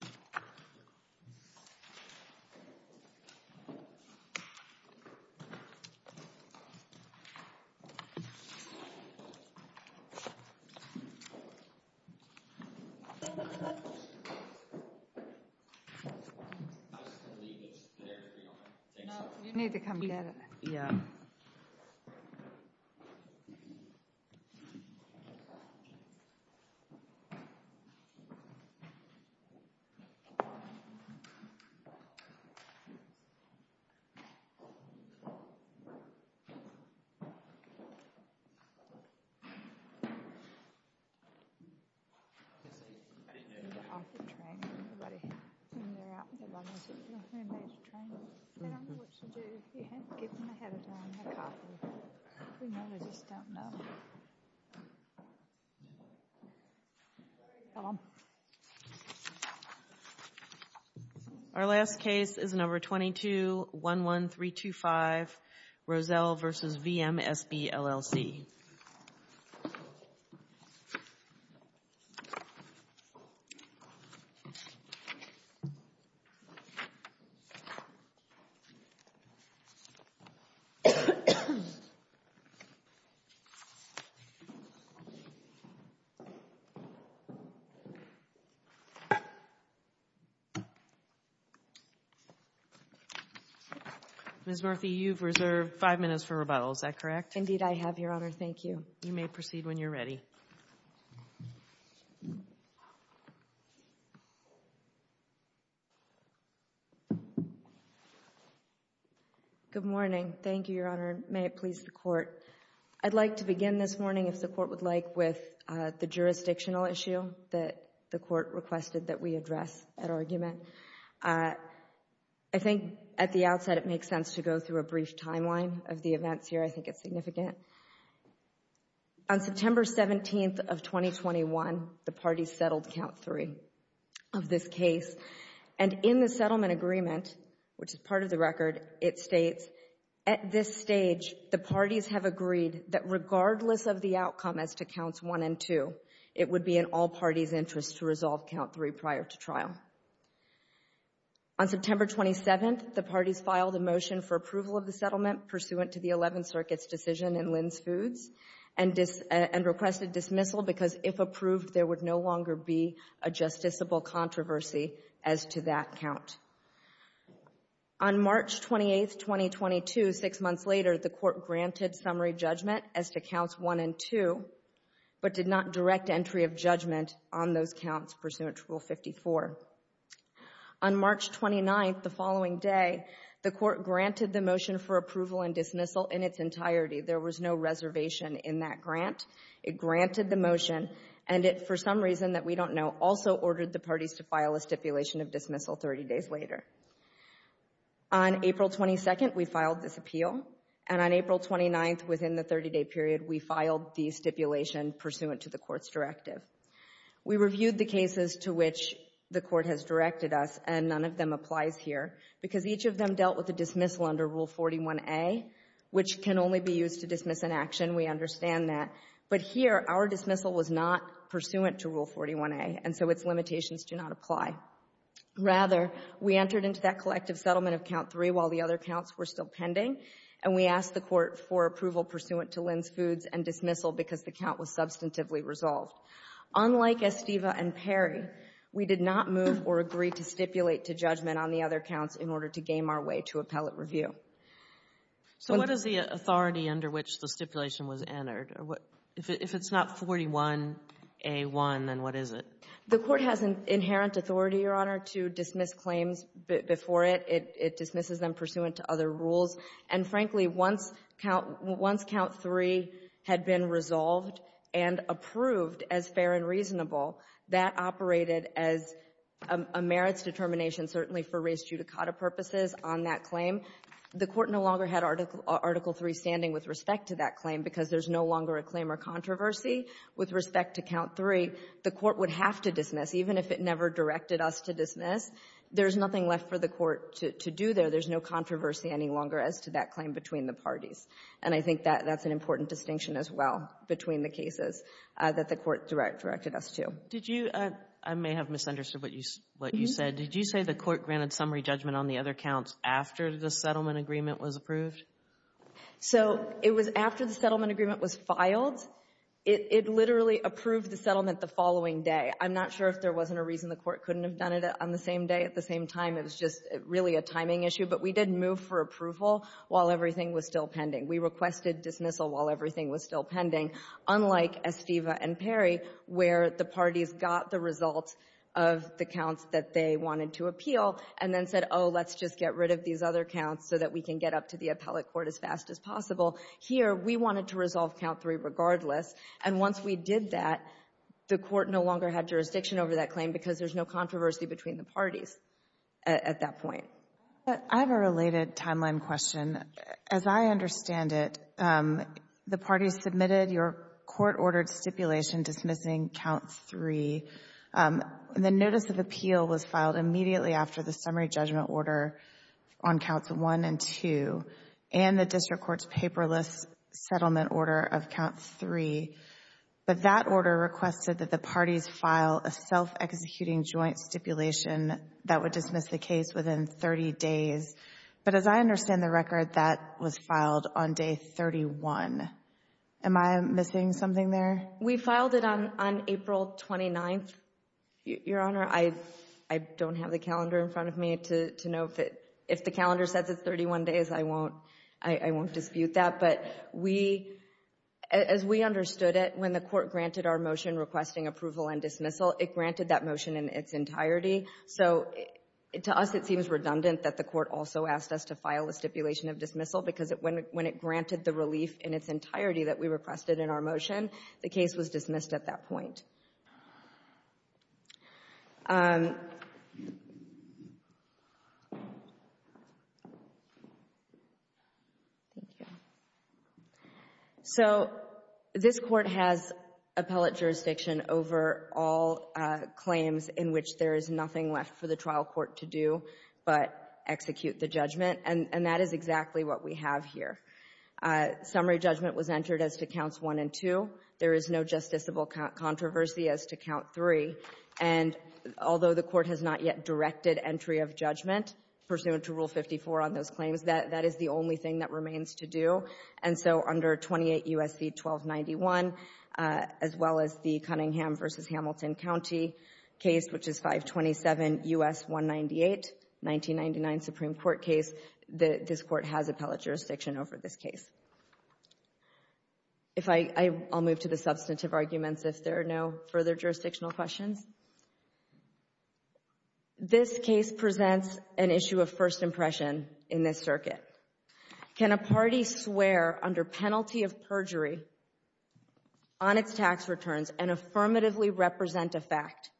Chair passes baton to Ms. Diana Ross Our last case is number 22 1 1 3 2 5 Roselle vs. VMSB LLC Ms. Murphy, you've reserved five minutes for rebuttal, is that correct? Indeed I have, Your Honor, thank you. You may proceed when you're ready. Good morning. Thank you, Your Honor. May it please the Court. I'd like to begin this morning, if the Court would like, with the jurisdictional issue that the Court requested that we address at argument. I think at the outset it makes sense to go through a brief timeline of the events here. I think it's significant. On September 17th of 2021, the parties settled Count 3 of this case. And in the settlement agreement, which is part of the record, it states, at this stage, the parties have agreed that regardless of the outcome as to Counts 1 and 2, it would be in all parties' interest to resolve Count 3 prior to trial. On September 27th, the parties filed a motion for approval of the settlement pursuant to the Eleventh Circuit's decision in Lynn's Foods and requested dismissal because if approved, there would no longer be a justiciable controversy as to that count. On March 28th, 2022, six months later, the Court granted summary judgment as to Counts 1 and 2, but did not direct entry of judgment on those counts pursuant to Rule 54. On March 29th, the following day, the Court granted the motion for approval and dismissal in its entirety. There was no reservation in that grant. It granted the motion, and it, for some reason that we don't know, also ordered the parties to file a stipulation of dismissal 30 days later. On April 22nd, we filed this appeal, and on April 29th, within the 30-day period, we filed the stipulation pursuant to the Court's directive. We reviewed the cases to which the Court has directed us, and none of them applies here because each of them dealt with a dismissal under Rule 41A, which can only be used to dismiss an action. We understand that. But here, our dismissal was not pursuant to Rule 41A, and so its limitations do not apply. Rather, we entered into that collective settlement of Count 3 while the other counts were still pending, and we asked the Court for approval pursuant to Lynn's Foods and dismissal because the count was substantively resolved. Unlike Estiva and Perry, we did not move or agree to stipulate to judgment on the other counts in order to game our way to appellate review. So what is the authority under which the stipulation was entered? If it's not 41A1, then what is it? The Court has an inherent authority, Your Honor, to dismiss claims before it. It dismisses them pursuant to other rules. And frankly, once Count 3 had been resolved and approved as fair and reasonable, that operated as a merits determination, certainly for race judicata purposes, on that claim. The Court no longer had Article 3 standing with respect to that claim because there's no longer a claim or controversy with respect to Count 3. The Court would have to dismiss, even if it never directed us to dismiss. There's nothing left for the Court to do there. There's no controversy any longer as to that claim between the parties. And I think that's an important distinction as well between the cases that the Court directed us to. Did you — I may have misunderstood what you said. Did you say the Court granted summary judgment on the other counts after the settlement agreement was approved? So it was after the settlement agreement was filed. It literally approved the settlement the following day. I'm not sure if there wasn't a reason the Court couldn't have done it on the same day at the same time. It was just really a timing issue. But we didn't move for approval while everything was still pending. We requested dismissal while everything was still pending, unlike Estiva and Perry, where the parties got the results of the counts that they wanted to appeal and then said, oh, let's just get rid of these other counts so that we can get up to the appellate court as fast as possible. Here, we wanted to resolve count three regardless. And once we did that, the Court no longer had jurisdiction over that claim because there's no controversy between the parties at that point. I have a related timeline question. As I understand it, the parties submitted your court-ordered stipulation dismissing count three. The notice of appeal was filed immediately after the summary judgment order on counts one and two and the district court's paperless settlement order of count three. But that order requested that the parties file a self-executing joint stipulation that would dismiss the case within 30 days. But as I understand the record, that was filed on day 31. Am I missing something there? We filed it on April 29th, Your Honor. I don't have the calendar in front of me to know if the calendar says it's 31 days. I won't dispute that. But as we understood it, when the Court granted our motion requesting approval and dismissal, it granted that motion in its entirety. So to us, it seems redundant that the Court also asked us to file a stipulation of dismissal because when it granted the relief in its entirety that we requested in our motion, the case was dismissed at that point. Thank you. So this Court has appellate jurisdiction over all claims in which there is nothing left for the trial court to do but execute the judgment, and that is exactly what we have here. Summary judgment was entered as to counts one and two. There is no justiciable controversy as to count three. And although the Court has not yet directed entry of judgment pursuant to Rule 54 on those claims, that is the only thing that remains to do. And so under 28 U.S.C. 1291, as well as the Cunningham v. Hamilton County case, which is 527 U.S. 198, 1999 Supreme Court case, this Court has appellate jurisdiction over this case. I'll move to the substantive arguments if there are no further jurisdictional questions. This case presents an issue of first impression in this circuit. Can a party swear under penalty of perjury on its tax returns and affirmatively represent a fact,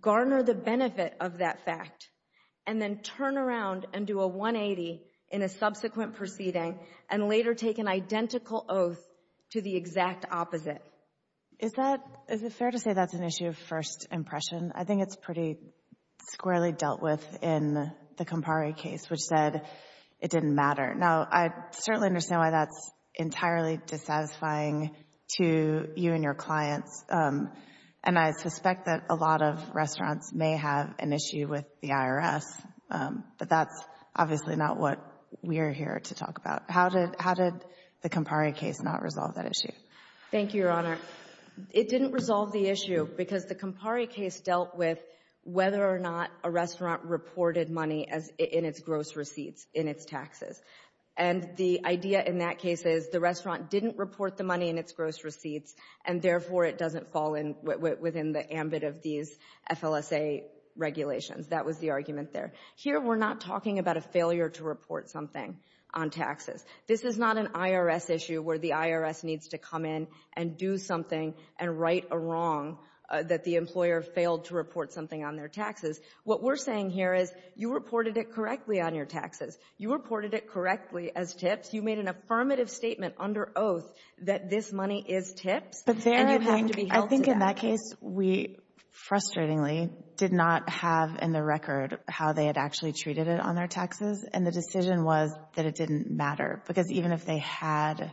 garner the benefit of that fact, and then turn around and do a 180 in a subsequent proceeding and later take an identical oath to the exact opposite? Is that, is it fair to say that's an issue of first impression? I think it's pretty squarely dealt with in the Campari case, which said it didn't matter. Now, I certainly understand why that's entirely dissatisfying to you and your clients, and I suspect that a lot of restaurants may have an issue with the IRS, but that's obviously not what we're here to talk about. How did the Campari case not resolve that issue? Thank you, Your Honor. It didn't resolve the issue because the Campari case dealt with whether or not a restaurant reported money in its gross receipts, in its taxes. And the idea in that case is the restaurant didn't report the money in its gross receipts, and therefore it doesn't fall within the ambit of these FLSA regulations. That was the argument there. Here we're not talking about a failure to report something on taxes. This is not an IRS issue where the IRS needs to come in and do something and right a wrong that the employer failed to report something on their taxes. What we're saying here is you reported it correctly on your taxes. You reported it correctly as tips. You made an affirmative statement under oath that this money is tips, and you have to be held to that. In that case, we, frustratingly, did not have in the record how they had actually treated it on their taxes. And the decision was that it didn't matter, because even if they had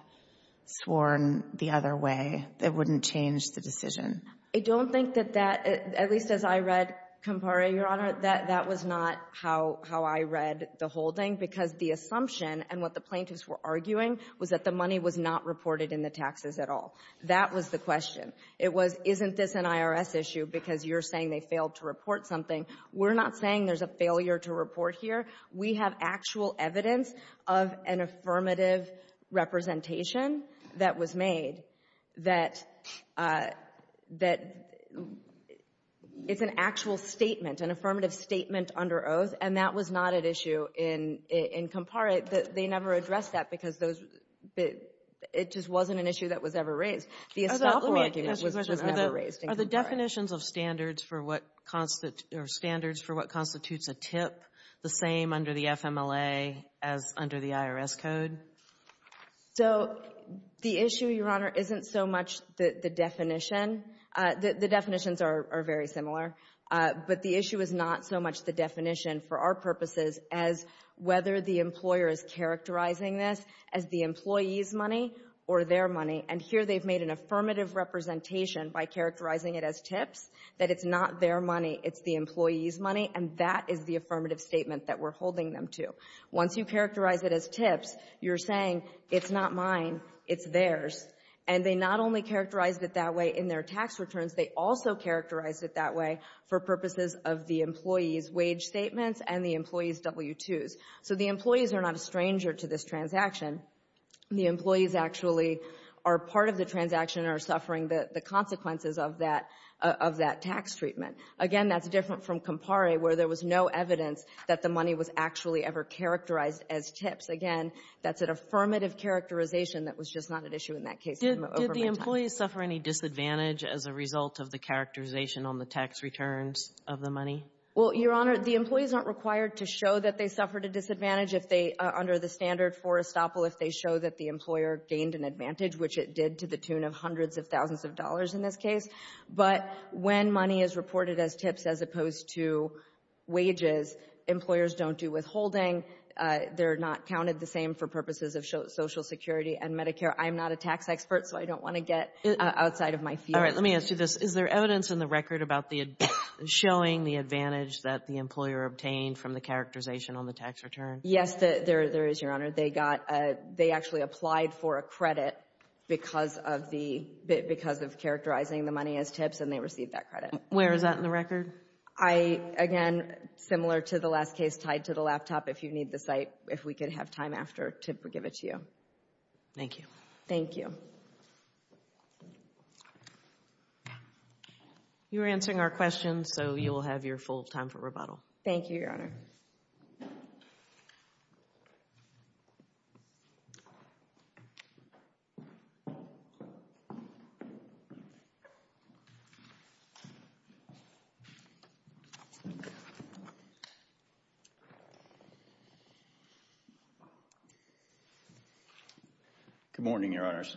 sworn the other way, it wouldn't change the decision. I don't think that that, at least as I read Campari, Your Honor, that that was not how I read the holding, because the assumption and what the plaintiffs were arguing was that the money was not reported in the taxes at all. That was the question. It was, isn't this an IRS issue because you're saying they failed to report something? We're not saying there's a failure to report here. We have actual evidence of an affirmative representation that was made that it's an actual statement, an affirmative statement under oath, and that was not an issue in Campari. They never addressed that because it just wasn't an issue that was ever raised. The establishment was never raised in Campari. Are the definitions of standards for what constitutes a tip the same under the FMLA as under the IRS code? So the issue, Your Honor, isn't so much the definition. The definitions are very similar, but the issue is not so much the definition for our purposes as whether the employer is characterizing this as the employee's money or their money. And here they've made an affirmative representation by characterizing it as tips, that it's not their money, it's the employee's money, and that is the affirmative statement that we're holding them to. Once you characterize it as tips, you're saying it's not mine, it's theirs. And they not only characterized it that way in their tax returns, they also characterized it that way for purposes of the employee's wage statements and the employee's W-2s. So the employees are not a stranger to this transaction. The employees actually are part of the transaction and are suffering the consequences of that tax treatment. Again, that's different from Campari, where there was no evidence that the money was actually ever characterized as tips. Again, that's an affirmative characterization that was just not at issue in that case. Did the employees suffer any disadvantage as a result of the characterization on the tax returns of the money? Well, Your Honor, the employees aren't required to show that they suffered a disadvantage if they, under the standard for estoppel, if they show that the employer gained an advantage, which it did to the tune of hundreds of thousands of dollars in this case. But when money is reported as tips as opposed to wages, employers don't do withholding. They're not counted the same for purposes of Social Security and Medicare. I'm not a tax expert, so I don't want to get outside of my field. All right. Let me ask you this. Is there evidence in the record about the, showing the advantage that the employer obtained from the characterization on the tax return? Yes, there is, Your Honor. They got, they actually applied for a credit because of the, because of characterizing the money as tips, and they received that credit. Where is that in the record? I, again, similar to the last case, tied to the laptop. If you need the site, if we could have time after to give it to you. Thank you. Thank you. You were answering our questions, so you will have your full time for rebuttal. Thank you, Your Honor. Thank you. Good morning, Your Honors.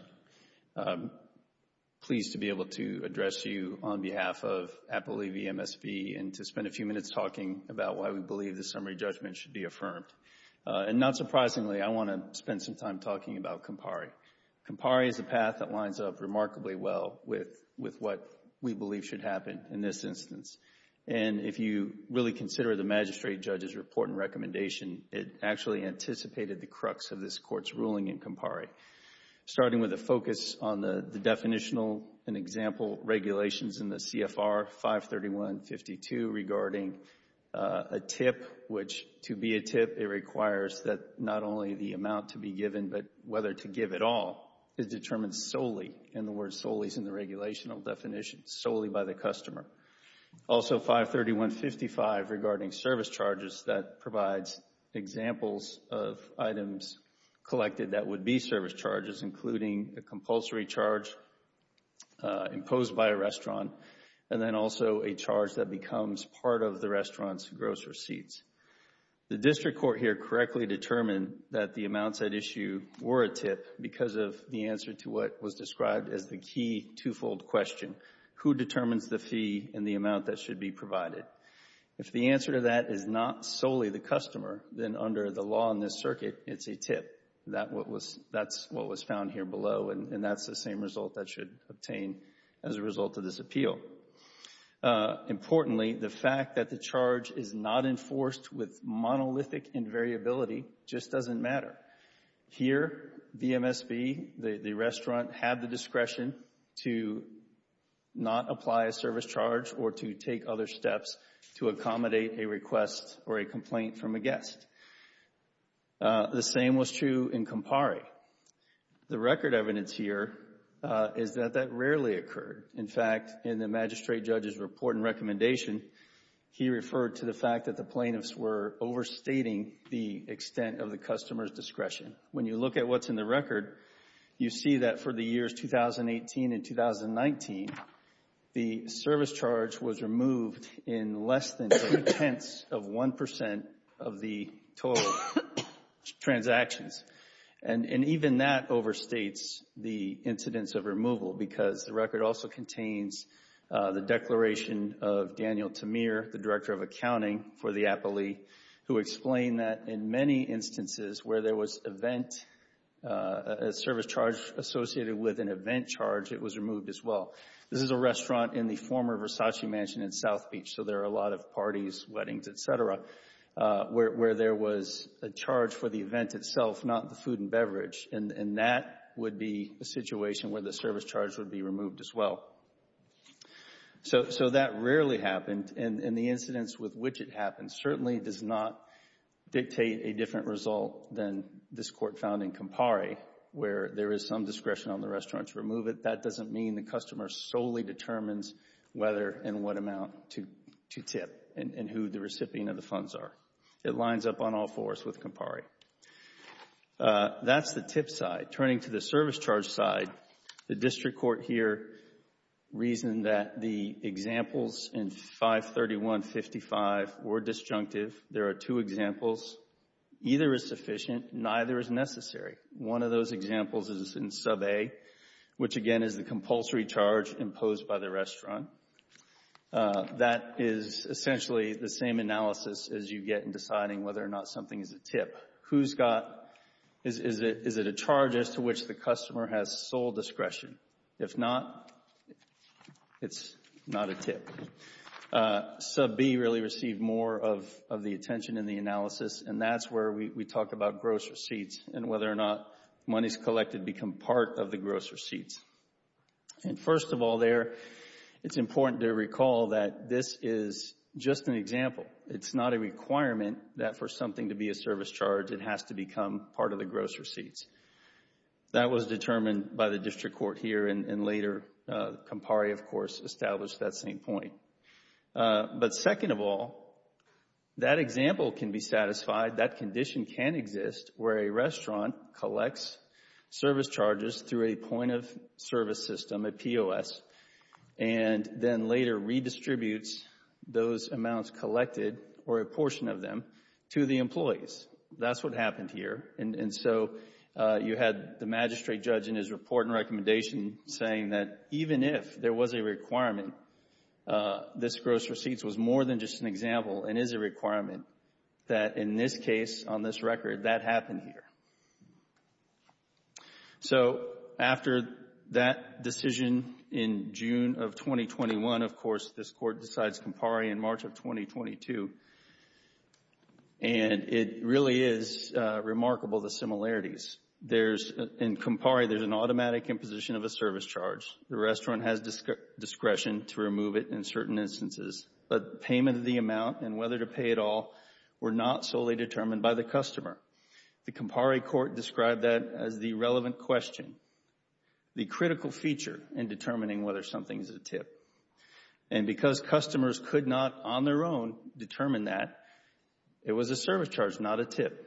Pleased to be able to address you on behalf of Apple EVMSV and to spend a few minutes talking about why we believe the summary judgment should be affirmed. And not surprisingly, I want to spend some time talking about Compari. Compari is a path that lines up remarkably well with, with what we believe should happen in this instance. And if you really consider the magistrate judge's report and recommendation, it actually anticipated the crux of this court's ruling in Compari, starting with a focus on the, the definitional and example regulations in the CFR 531.52 regarding a tip, which to be a tip, it requires that not only the amount to be given, but whether to give at all is determined solely, in the words solely is in the regulational definition, solely by the customer. Also 531.55 regarding service charges that provides examples of items collected that would be service charges, including a compulsory charge imposed by a restaurant, and then also a charge that becomes part of the restaurant's gross receipts. The district court here correctly determined that the amounts at issue were a tip because of the answer to what was described as the key twofold question, who determines the fee and the amount that should be provided? If the answer to that is not solely the customer, then under the law in this circuit, it's a that's what was found here below, and that's the same result that should obtain as a result of this appeal. Importantly, the fact that the charge is not enforced with monolithic invariability just doesn't matter. Here VMSB, the restaurant, had the discretion to not apply a service charge or to take other The same was true in Campari. The record evidence here is that that rarely occurred. In fact, in the magistrate judge's report and recommendation, he referred to the fact that the plaintiffs were overstating the extent of the customer's discretion. When you look at what's in the record, you see that for the years 2018 and 2019, the total transactions, and even that overstates the incidence of removal because the record also contains the declaration of Daniel Tamir, the director of accounting for the Appalee, who explained that in many instances where there was event, a service charge associated with an event charge, it was removed as well. This is a restaurant in the former Versace Mansion in South Beach, so there are a lot of parties, weddings, et cetera, where there was a charge for the event itself, not the food and beverage, and that would be a situation where the service charge would be removed as well. So that rarely happened, and the incidence with which it happened certainly does not dictate a different result than this court found in Campari, where there is some discretion on the restaurant to remove it. But that doesn't mean the customer solely determines whether and what amount to tip and who the recipient of the funds are. It lines up on all fours with Campari. That's the tip side. Turning to the service charge side, the district court here reasoned that the examples in 531.55 were disjunctive. There are two examples. Either is sufficient, neither is necessary. One of those examples is in Sub A, which again is the compulsory charge imposed by the restaurant. That is essentially the same analysis as you get in deciding whether or not something is a tip. Who's got, is it a charge as to which the customer has sole discretion? If not, it's not a tip. Sub B really received more of the attention in the analysis, and that's where we talk about gross receipts and whether or not monies collected become part of the gross receipts. First of all there, it's important to recall that this is just an example. It's not a requirement that for something to be a service charge, it has to become part of the gross receipts. That was determined by the district court here, and later Campari, of course, established that same point. But second of all, that example can be satisfied, that condition can exist where a restaurant collects service charges through a point of service system, a POS, and then later redistributes those amounts collected, or a portion of them, to the employees. That's what happened here, and so you had the magistrate judge in his report and recommendation saying that even if there was a requirement, this gross receipts was more than just an example and is a requirement, that in this case, on this record, that happened here. So after that decision in June of 2021, of course, this court decides Campari in March of 2022, and it really is remarkable the similarities. In Campari, there's an automatic imposition of a service charge. The restaurant has discretion to remove it in certain instances, but payment of the amount and whether to pay it all were not solely determined by the customer. The Campari court described that as the relevant question, the critical feature in determining whether something is a TIP. And because customers could not on their own determine that, it was a service charge, not a TIP.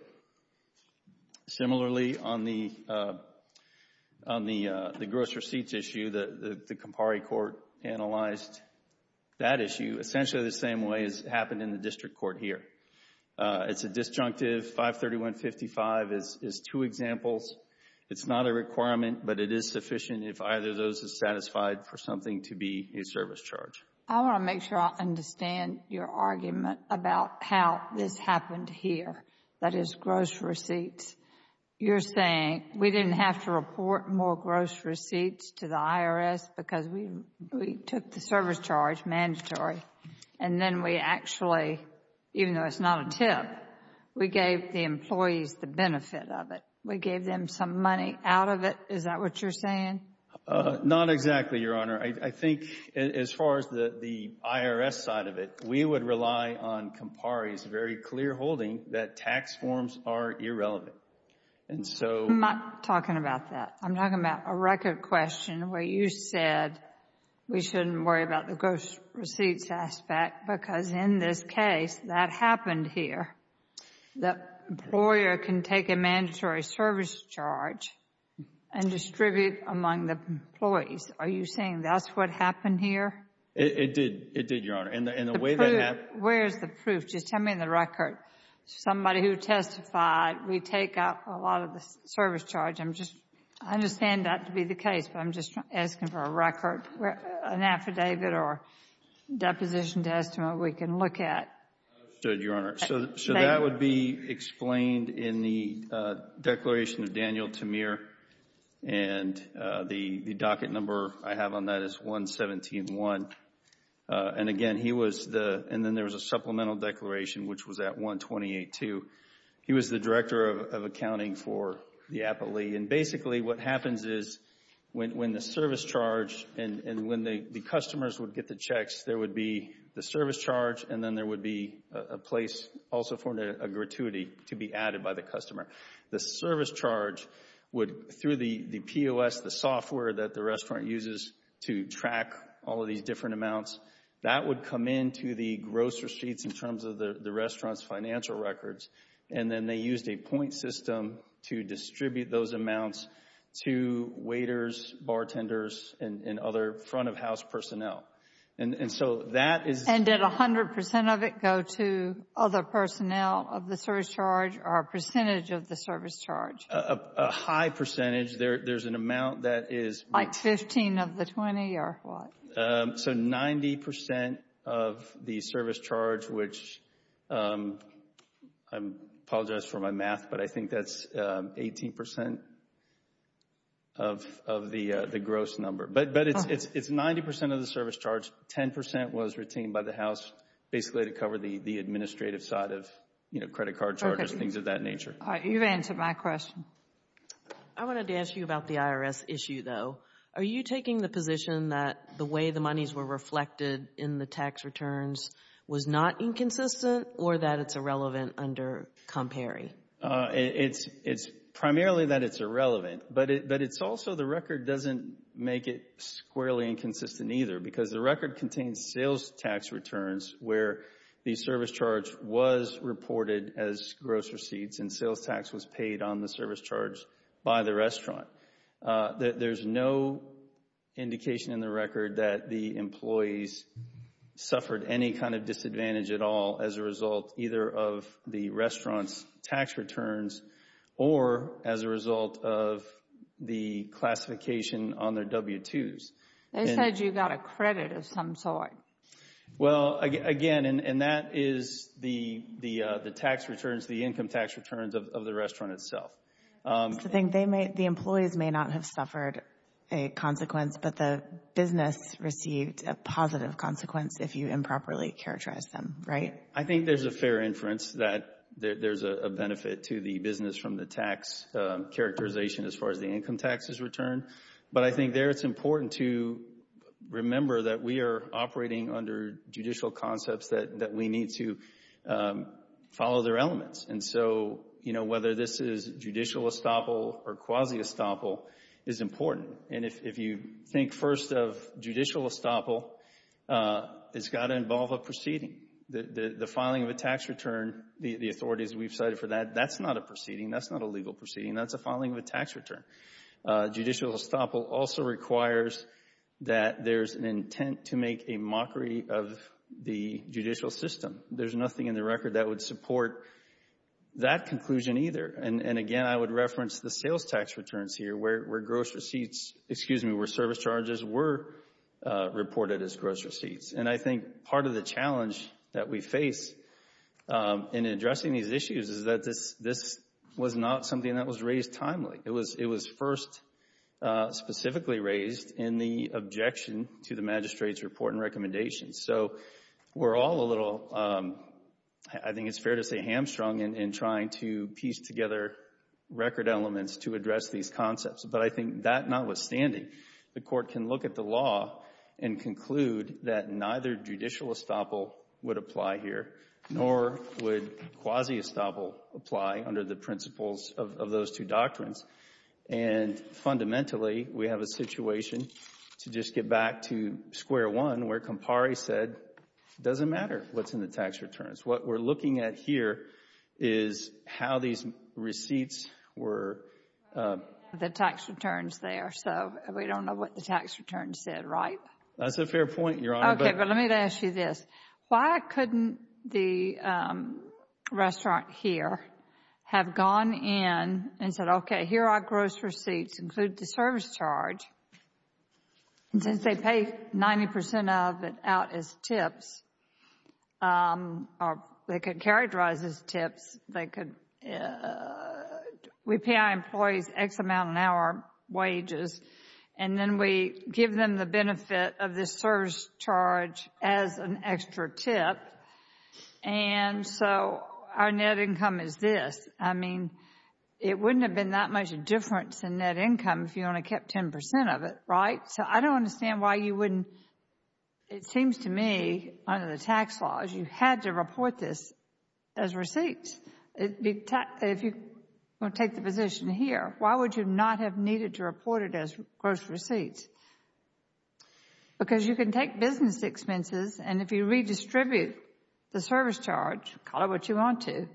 Similarly, on the gross receipts issue, the Campari court analyzed that issue essentially the same way as happened in the district court here. It's a disjunctive, 531.55 is two examples. It's not a requirement, but it is sufficient if either of those is satisfied for something to be a service charge. I want to make sure I understand your argument about how this happened here. That is gross receipts. You're saying we didn't have to report more gross receipts to the IRS because we took the service charge, mandatory, and then we actually, even though it's not a TIP, we gave the employees the benefit of it. We gave them some money out of it. Is that what you're saying? Not exactly, Your Honor. I think as far as the IRS side of it, we would rely on Campari's very clear holding that tax forms are irrelevant. And so... I'm not talking about that. I'm talking about a record question where you said we shouldn't worry about the gross receipts aspect because in this case, that happened here. The employer can take a mandatory service charge and distribute among the employees. Are you saying that's what happened here? It did, Your Honor. And the way that happened... Where's the proof? Just tell me in the record. Somebody who testified, we take out a lot of the service charge. I'm just... I understand that to be the case, but I'm just asking for a record, an affidavit or deposition to estimate we can look at. Understood, Your Honor. So that would be explained in the declaration of Daniel Tamir and the docket number I have on that is 117-1. And again, he was the... and then there was a supplemental declaration, which was at 128-2. He was the Director of Accounting for the Applee. And basically, what happens is when the service charge and when the customers would get the checks, there would be the service charge and then there would be a place also for a gratuity to be added by the customer. The service charge would, through the POS, the software that the restaurant uses to track all of these different amounts, that would come into the gross receipts in terms of the restaurant's financial records. And then they used a point system to distribute those amounts to waiters, bartenders, and other front of house personnel. And so that is... A high percentage. There's an amount that is... Like 15 of the 20 or what? So 90% of the service charge, which I apologize for my math, but I think that's 18% of the gross number. But it's 90% of the service charge. 10% was retained by the house basically to cover the administrative side of, you know, credit card charges, things of that nature. All right. You've answered my question. I wanted to ask you about the IRS issue though. Are you taking the position that the way the monies were reflected in the tax returns was not inconsistent or that it's irrelevant under ComPary? It's primarily that it's irrelevant, but it's also the record doesn't make it squarely inconsistent either because the record contains sales tax returns where the service charge was reported as gross receipts and sales tax was paid on the service charge by the restaurant. There's no indication in the record that the employees suffered any kind of disadvantage at all as a result either of the restaurant's tax returns or as a result of the classification on their W-2s. They said you got a credit of some sort. Well, again, and that is the tax returns, the income tax returns of the restaurant itself. So, the employees may not have suffered a consequence, but the business received a positive consequence if you improperly characterized them, right? I think there's a fair inference that there's a benefit to the business from the tax characterization as far as the income taxes return. But I think there it's important to remember that we are operating under judicial concepts that we need to follow their elements. And so, you know, whether this is judicial estoppel or quasi-estoppel is important. And if you think first of judicial estoppel, it's got to involve a proceeding. The filing of a tax return, the authorities we've cited for that, that's not a proceeding. That's not a legal proceeding. That's a filing of a tax return. Judicial estoppel also requires that there's an intent to make a mockery of the judicial system. There's nothing in the record that would support that conclusion either. And again, I would reference the sales tax returns here where gross receipts, excuse me, where service charges were reported as gross receipts. And I think part of the challenge that we face in addressing these issues is that this was not something that was raised timely. It was first specifically raised in the objection to the magistrate's report and recommendations. So we're all a little, I think it's fair to say, hamstrung in trying to piece together record elements to address these concepts. But I think that notwithstanding, the Court can look at the law and conclude that neither judicial estoppel would apply here, nor would quasi-estoppel apply under the principles of those two doctrines. And fundamentally, we have a situation, to just get back to square one, where Campari said it doesn't matter what's in the tax returns. What we're looking at here is how these receipts were. The tax returns there. So we don't know what the tax returns said, right? That's a fair point, Your Honor. Okay. But let me ask you this. Why couldn't the restaurant here have gone in and said, okay, here are gross receipts, include the service charge. And since they pay 90 percent of it out as tips, or they could characterize as tips, they could, we pay our employees X amount an hour wages, and then we give them the benefit of this service charge as an extra tip. And so our net income is this. I mean, it wouldn't have been that much a difference in net income if you only kept 10 percent of it, right? So I don't understand why you wouldn't, it seems to me, under the tax laws, you had to report this as receipts. If you want to take the position here, why would you not have needed to report it as gross receipts? Because you can take business expenses, and if you redistribute the service charge, call it what you want to,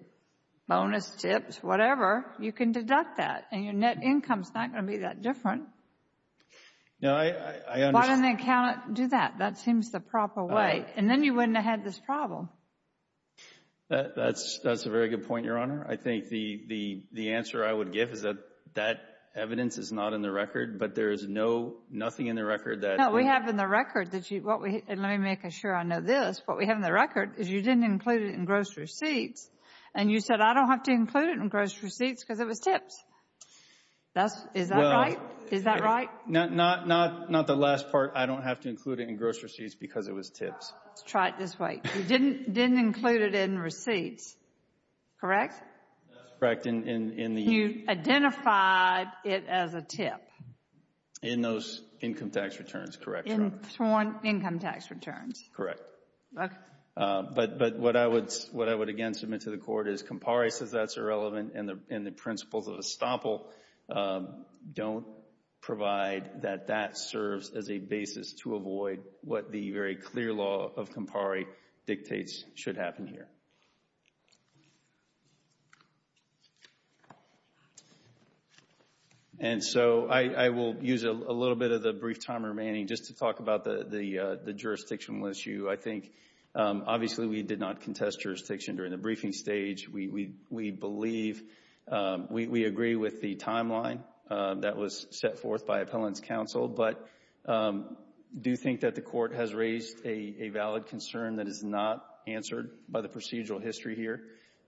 bonus, tips, whatever, you can deduct that, and your net income is not going to be that different. No, I understand. Why didn't the accountant do that? That seems the proper way. And then you wouldn't have had this problem. That's a very good point, Your Honor. I think the answer I would give is that that evidence is not in the record, but there is no, nothing in the record that No, we have in the record that you, what we, and let me make sure I know this, what we have in the record is you didn't include it in gross receipts, and you said, I don't have to include it in gross receipts because it was tips. That's, is that right? Is that right? Not the last part. I don't have to include it in gross receipts because it was tips. Try it this way. You didn't include it in receipts, correct? That's correct. In the You identified it as a tip. In those income tax returns, correct, Your Honor? In sworn income tax returns. Correct. But what I would, what I would again submit to the Court is Campari says that's irrelevant and the principles of estoppel don't provide that that serves as a basis to avoid what the very clear law of Campari dictates should happen here. And so I will use a little bit of the brief time remaining just to talk about the jurisdictional issue. I think obviously we did not contest jurisdiction during the briefing stage. We believe, we agree with the timeline that was set forth by appellant's counsel, but I do think that the Court has raised a valid concern that is not answered by the procedural history here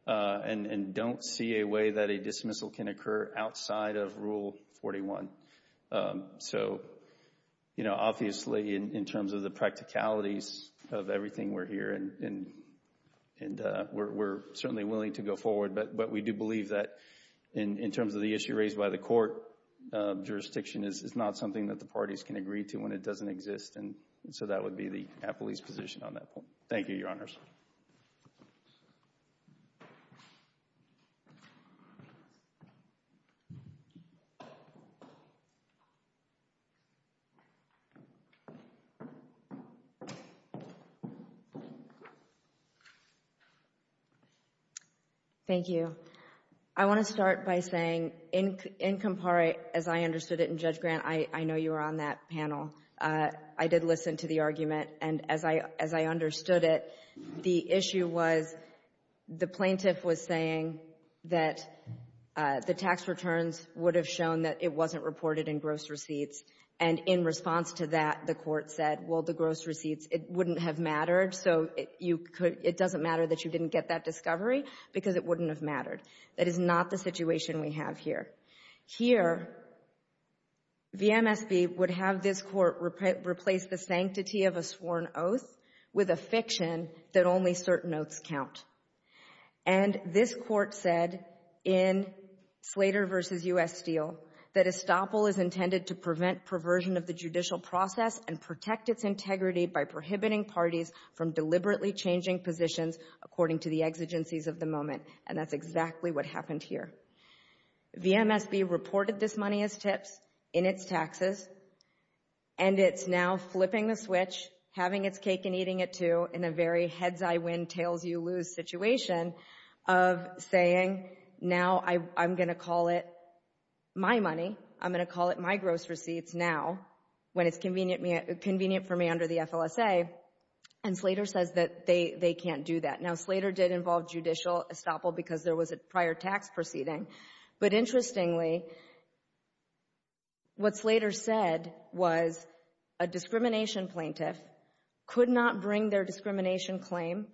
and don't see a way that a dismissal can occur outside of Rule 41. So, you know, obviously in terms of the practicalities of everything we're hearing, and we're certainly willing to go forward, but we do believe that in terms of the issue it doesn't exist. And so that would be the appellee's position on that point. Thank you, Your Honors. Thank you. I want to start by saying in Campari, as I understood it in Judge Grant, I know you were on that panel, I did listen to the argument. And as I understood it, the issue was the plaintiff was saying that the tax returns would have shown that it wasn't reported in gross receipts. And in response to that, the Court said, well, the gross receipts, it wouldn't have mattered, so it doesn't matter that you didn't get that discovery because it wouldn't have mattered. That is not the situation we have here. Here, VMSB would have this Court replace the sanctity of a sworn oath with a fiction that only certain oaths count. And this Court said in Slater v. U.S. Steele that estoppel is intended to prevent perversion of the judicial process and protect its integrity by prohibiting parties from deliberately changing positions according to the exigencies of the moment. And that's exactly what happened here. VMSB reported this money as tips in its taxes, and it's now flipping the switch, having its cake and eating it too, in a very heads-I-win, tails-you-lose situation of saying, now I'm going to call it my money. I'm going to call it my gross receipts now when it's convenient for me under the FLSA. And Slater says that they can't do that. Now, Slater did involve judicial estoppel because there was a prior tax proceeding. But interestingly, what Slater said was a discrimination plaintiff could not bring their discrimination claim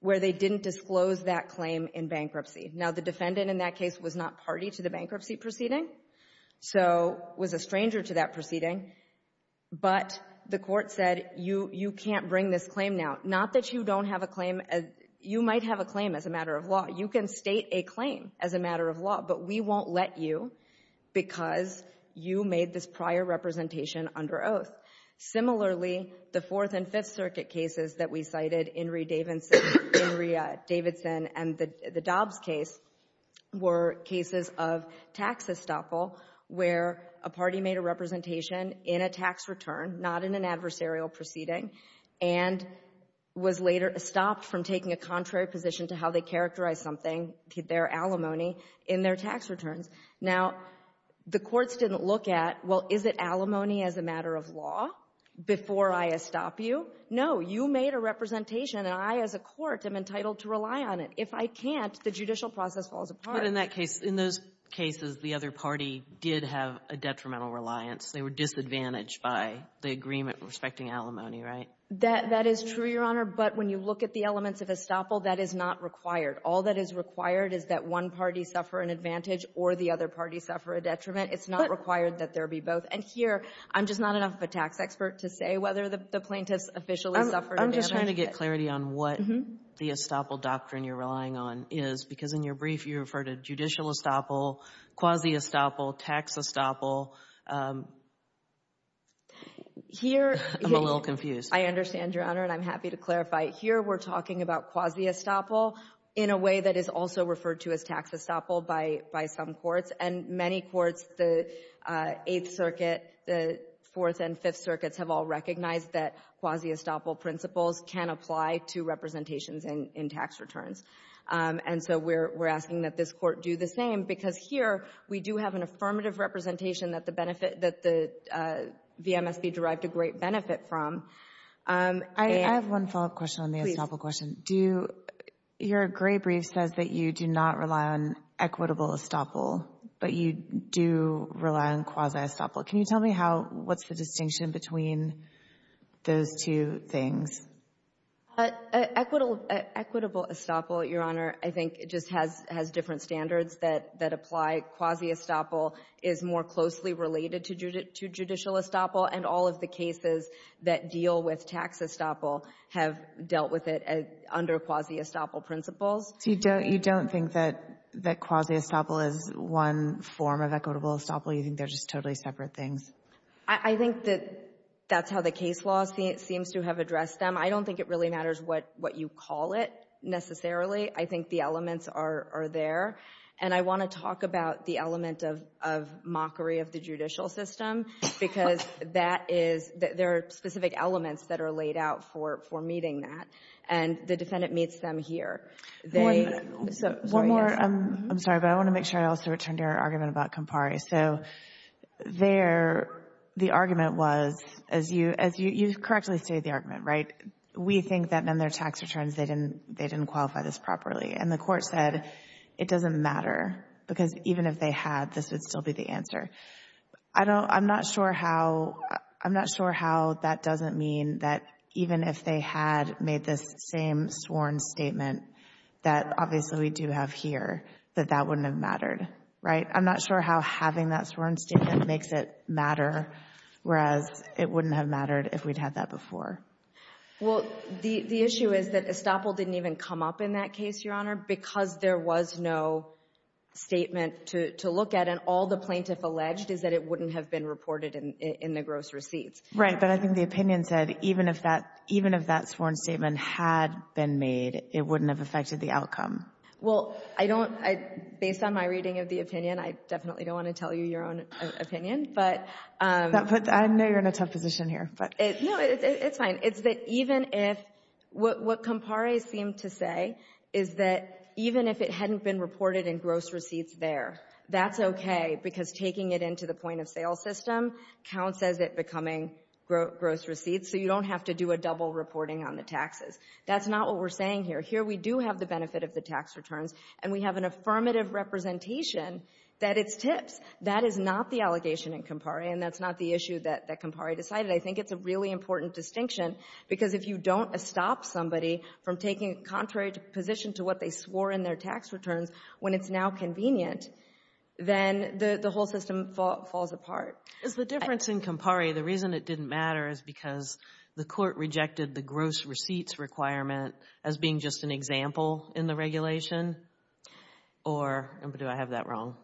where they didn't disclose that claim in bankruptcy. Now, the defendant in that case was not party to the bankruptcy proceeding, so was a stranger to that proceeding. But the Court said, you can't bring this claim now. Not that you don't have a claim. You might have a claim as a matter of law. You can state a claim as a matter of law, but we won't let you because you made this prior representation under oath. Similarly, the Fourth and Fifth Circuit cases that we cited, Inree Davidson and the Dobbs case, were cases of tax estoppel where a party made a representation in a tax return, not in an adversarial proceeding. And was later stopped from taking a contrary position to how they characterize something, their alimony, in their tax returns. Now, the courts didn't look at, well, is it alimony as a matter of law before I estop you? No. You made a representation, and I, as a court, am entitled to rely on it. If I can't, the judicial process falls apart. But in that case, in those cases, the other party did have a detrimental reliance. They were disadvantaged by the agreement respecting alimony, right? That is true, Your Honor. But when you look at the elements of estoppel, that is not required. All that is required is that one party suffer an advantage or the other party suffer a detriment. It's not required that there be both. And here, I'm just not enough of a tax expert to say whether the plaintiffs officially suffered a damage. I'm just trying to get clarity on what the estoppel doctrine you're relying on is, because in your brief, you referred to judicial estoppel, quasi-estoppel, tax estoppel. I'm a little confused. I understand, Your Honor, and I'm happy to clarify. Here, we're talking about quasi-estoppel in a way that is also referred to as tax estoppel by some courts. And many courts, the Eighth Circuit, the Fourth and Fifth Circuits, have all recognized that quasi-estoppel principles can apply to representations in tax returns. And so we're asking that this Court do the same, because here, we do have an affirmative representation that the benefit, that the VMSB derived a great benefit from. I have one follow-up question on the estoppel question. Do, your gray brief says that you do not rely on equitable estoppel, but you do rely on quasi-estoppel. Can you tell me how, what's the distinction between those two things? Equitable estoppel, Your Honor, I think just has different standards that apply. Quasi-estoppel is more closely related to judicial estoppel, and all of the cases that deal with tax estoppel have dealt with it under quasi-estoppel principles. So you don't think that quasi-estoppel is one form of equitable estoppel? You think they're just totally separate things? I think that that's how the case law seems to have addressed them. I don't think it really matters what you call it, necessarily. I think the elements are there. And I want to talk about the element of mockery of the judicial system, because that is, there are specific elements that are laid out for meeting that. And the defendant meets them here. One more. I'm sorry, but I want to make sure I also return to your argument about Campari. So there, the argument was, as you correctly stated the argument, right, we think that in their tax returns, they didn't qualify this properly. And the Court said it doesn't matter, because even if they had, this would still be the answer. I don't, I'm not sure how, I'm not sure how that doesn't mean that even if they had made this same sworn statement that obviously we do have here, that that wouldn't have mattered, right? I'm not sure how having that sworn statement makes it matter, whereas it wouldn't have mattered if we'd had that before. Well, the issue is that Estoppel didn't even come up in that case, Your Honor, because there was no statement to look at. And all the plaintiff alleged is that it wouldn't have been reported in the gross receipts. Right. But I think the opinion said even if that, even if that sworn statement had been made, it wouldn't have affected the outcome. Well, I don't, based on my reading of the opinion, I definitely don't want to tell you your own opinion, but. I know you're in a tough position here, but. No, it's fine. It's that even if, what Kampare seemed to say is that even if it hadn't been reported in gross receipts there, that's okay because taking it into the point of sale system counts as it becoming gross receipts, so you don't have to do a double reporting on the taxes. That's not what we're saying here. Here we do have the benefit of the tax returns, and we have an affirmative representation that it's tips. That is not the allegation in Kampare, and that's not the issue that Kampare decided. I think it's a really important distinction because if you don't stop somebody from taking a contrary position to what they swore in their tax returns when it's now convenient, then the whole system falls apart. Is the difference in Kampare, the reason it didn't matter is because the court rejected the gross receipts requirement as being just an example in the regulation, or do I have that wrong?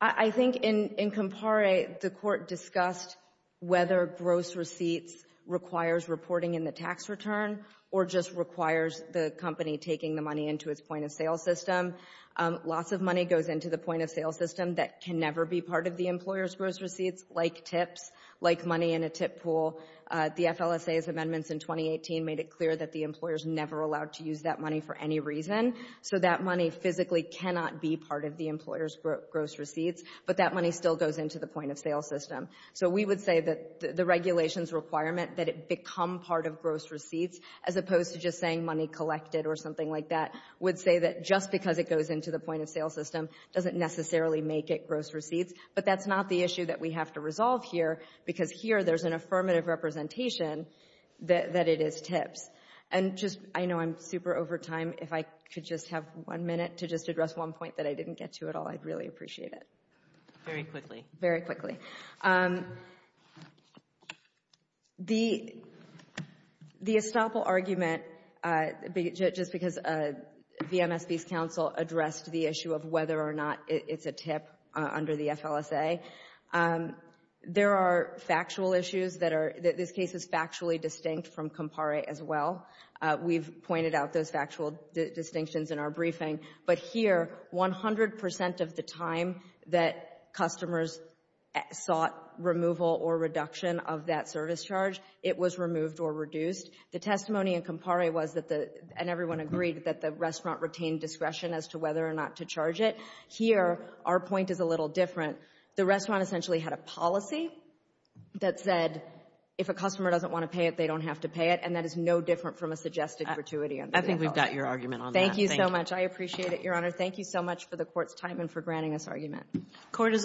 I think in Kampare, the court discussed whether gross receipts requires reporting in the tax return or just requires the company taking the money into its point of sale system. Loss of money goes into the point of sale system that can never be part of the employer's gross receipts, like tips, like money in a tip pool. The FLSA's amendments in 2018 made it clear that the employer's never allowed to use that money for any reason, so that money physically cannot be part of the employer's gross receipts, but that money still goes into the point of sale system. So we would say that the regulation's requirement that it become part of gross receipts, as opposed to just saying money collected or something like that, would say that just because it goes into the point of sale system doesn't necessarily make it gross receipts, but that's not the issue that we have to resolve here because here there's an affirmative representation that it is tips. I know I'm super over time. If I could just have one minute to just address one point that I didn't get to at all, I'd really appreciate it. Very quickly. Very quickly. The estoppel argument, just because VMSB's counsel addressed the issue of whether or not it's a tip under the FLSA, there are factual issues that are, this case is factually distinct from COMPARE as well. We've pointed out those factual distinctions in our briefing. But here, 100 percent of the time that customers sought removal or reduction of that service charge, it was removed or reduced. The testimony in COMPARE was that the, and everyone agreed, that the restaurant retained discretion as to whether or not to charge it. Here, our point is a little different. The restaurant essentially had a policy that said, if a customer doesn't want to pay it, they don't have to pay it, and that is no different from a suggested gratuity under the FLSA. I think we got your argument on that. Thank you so much. I appreciate it, Your Honor. Thank you so much for the Court's time and for granting this argument. Court is adjourned.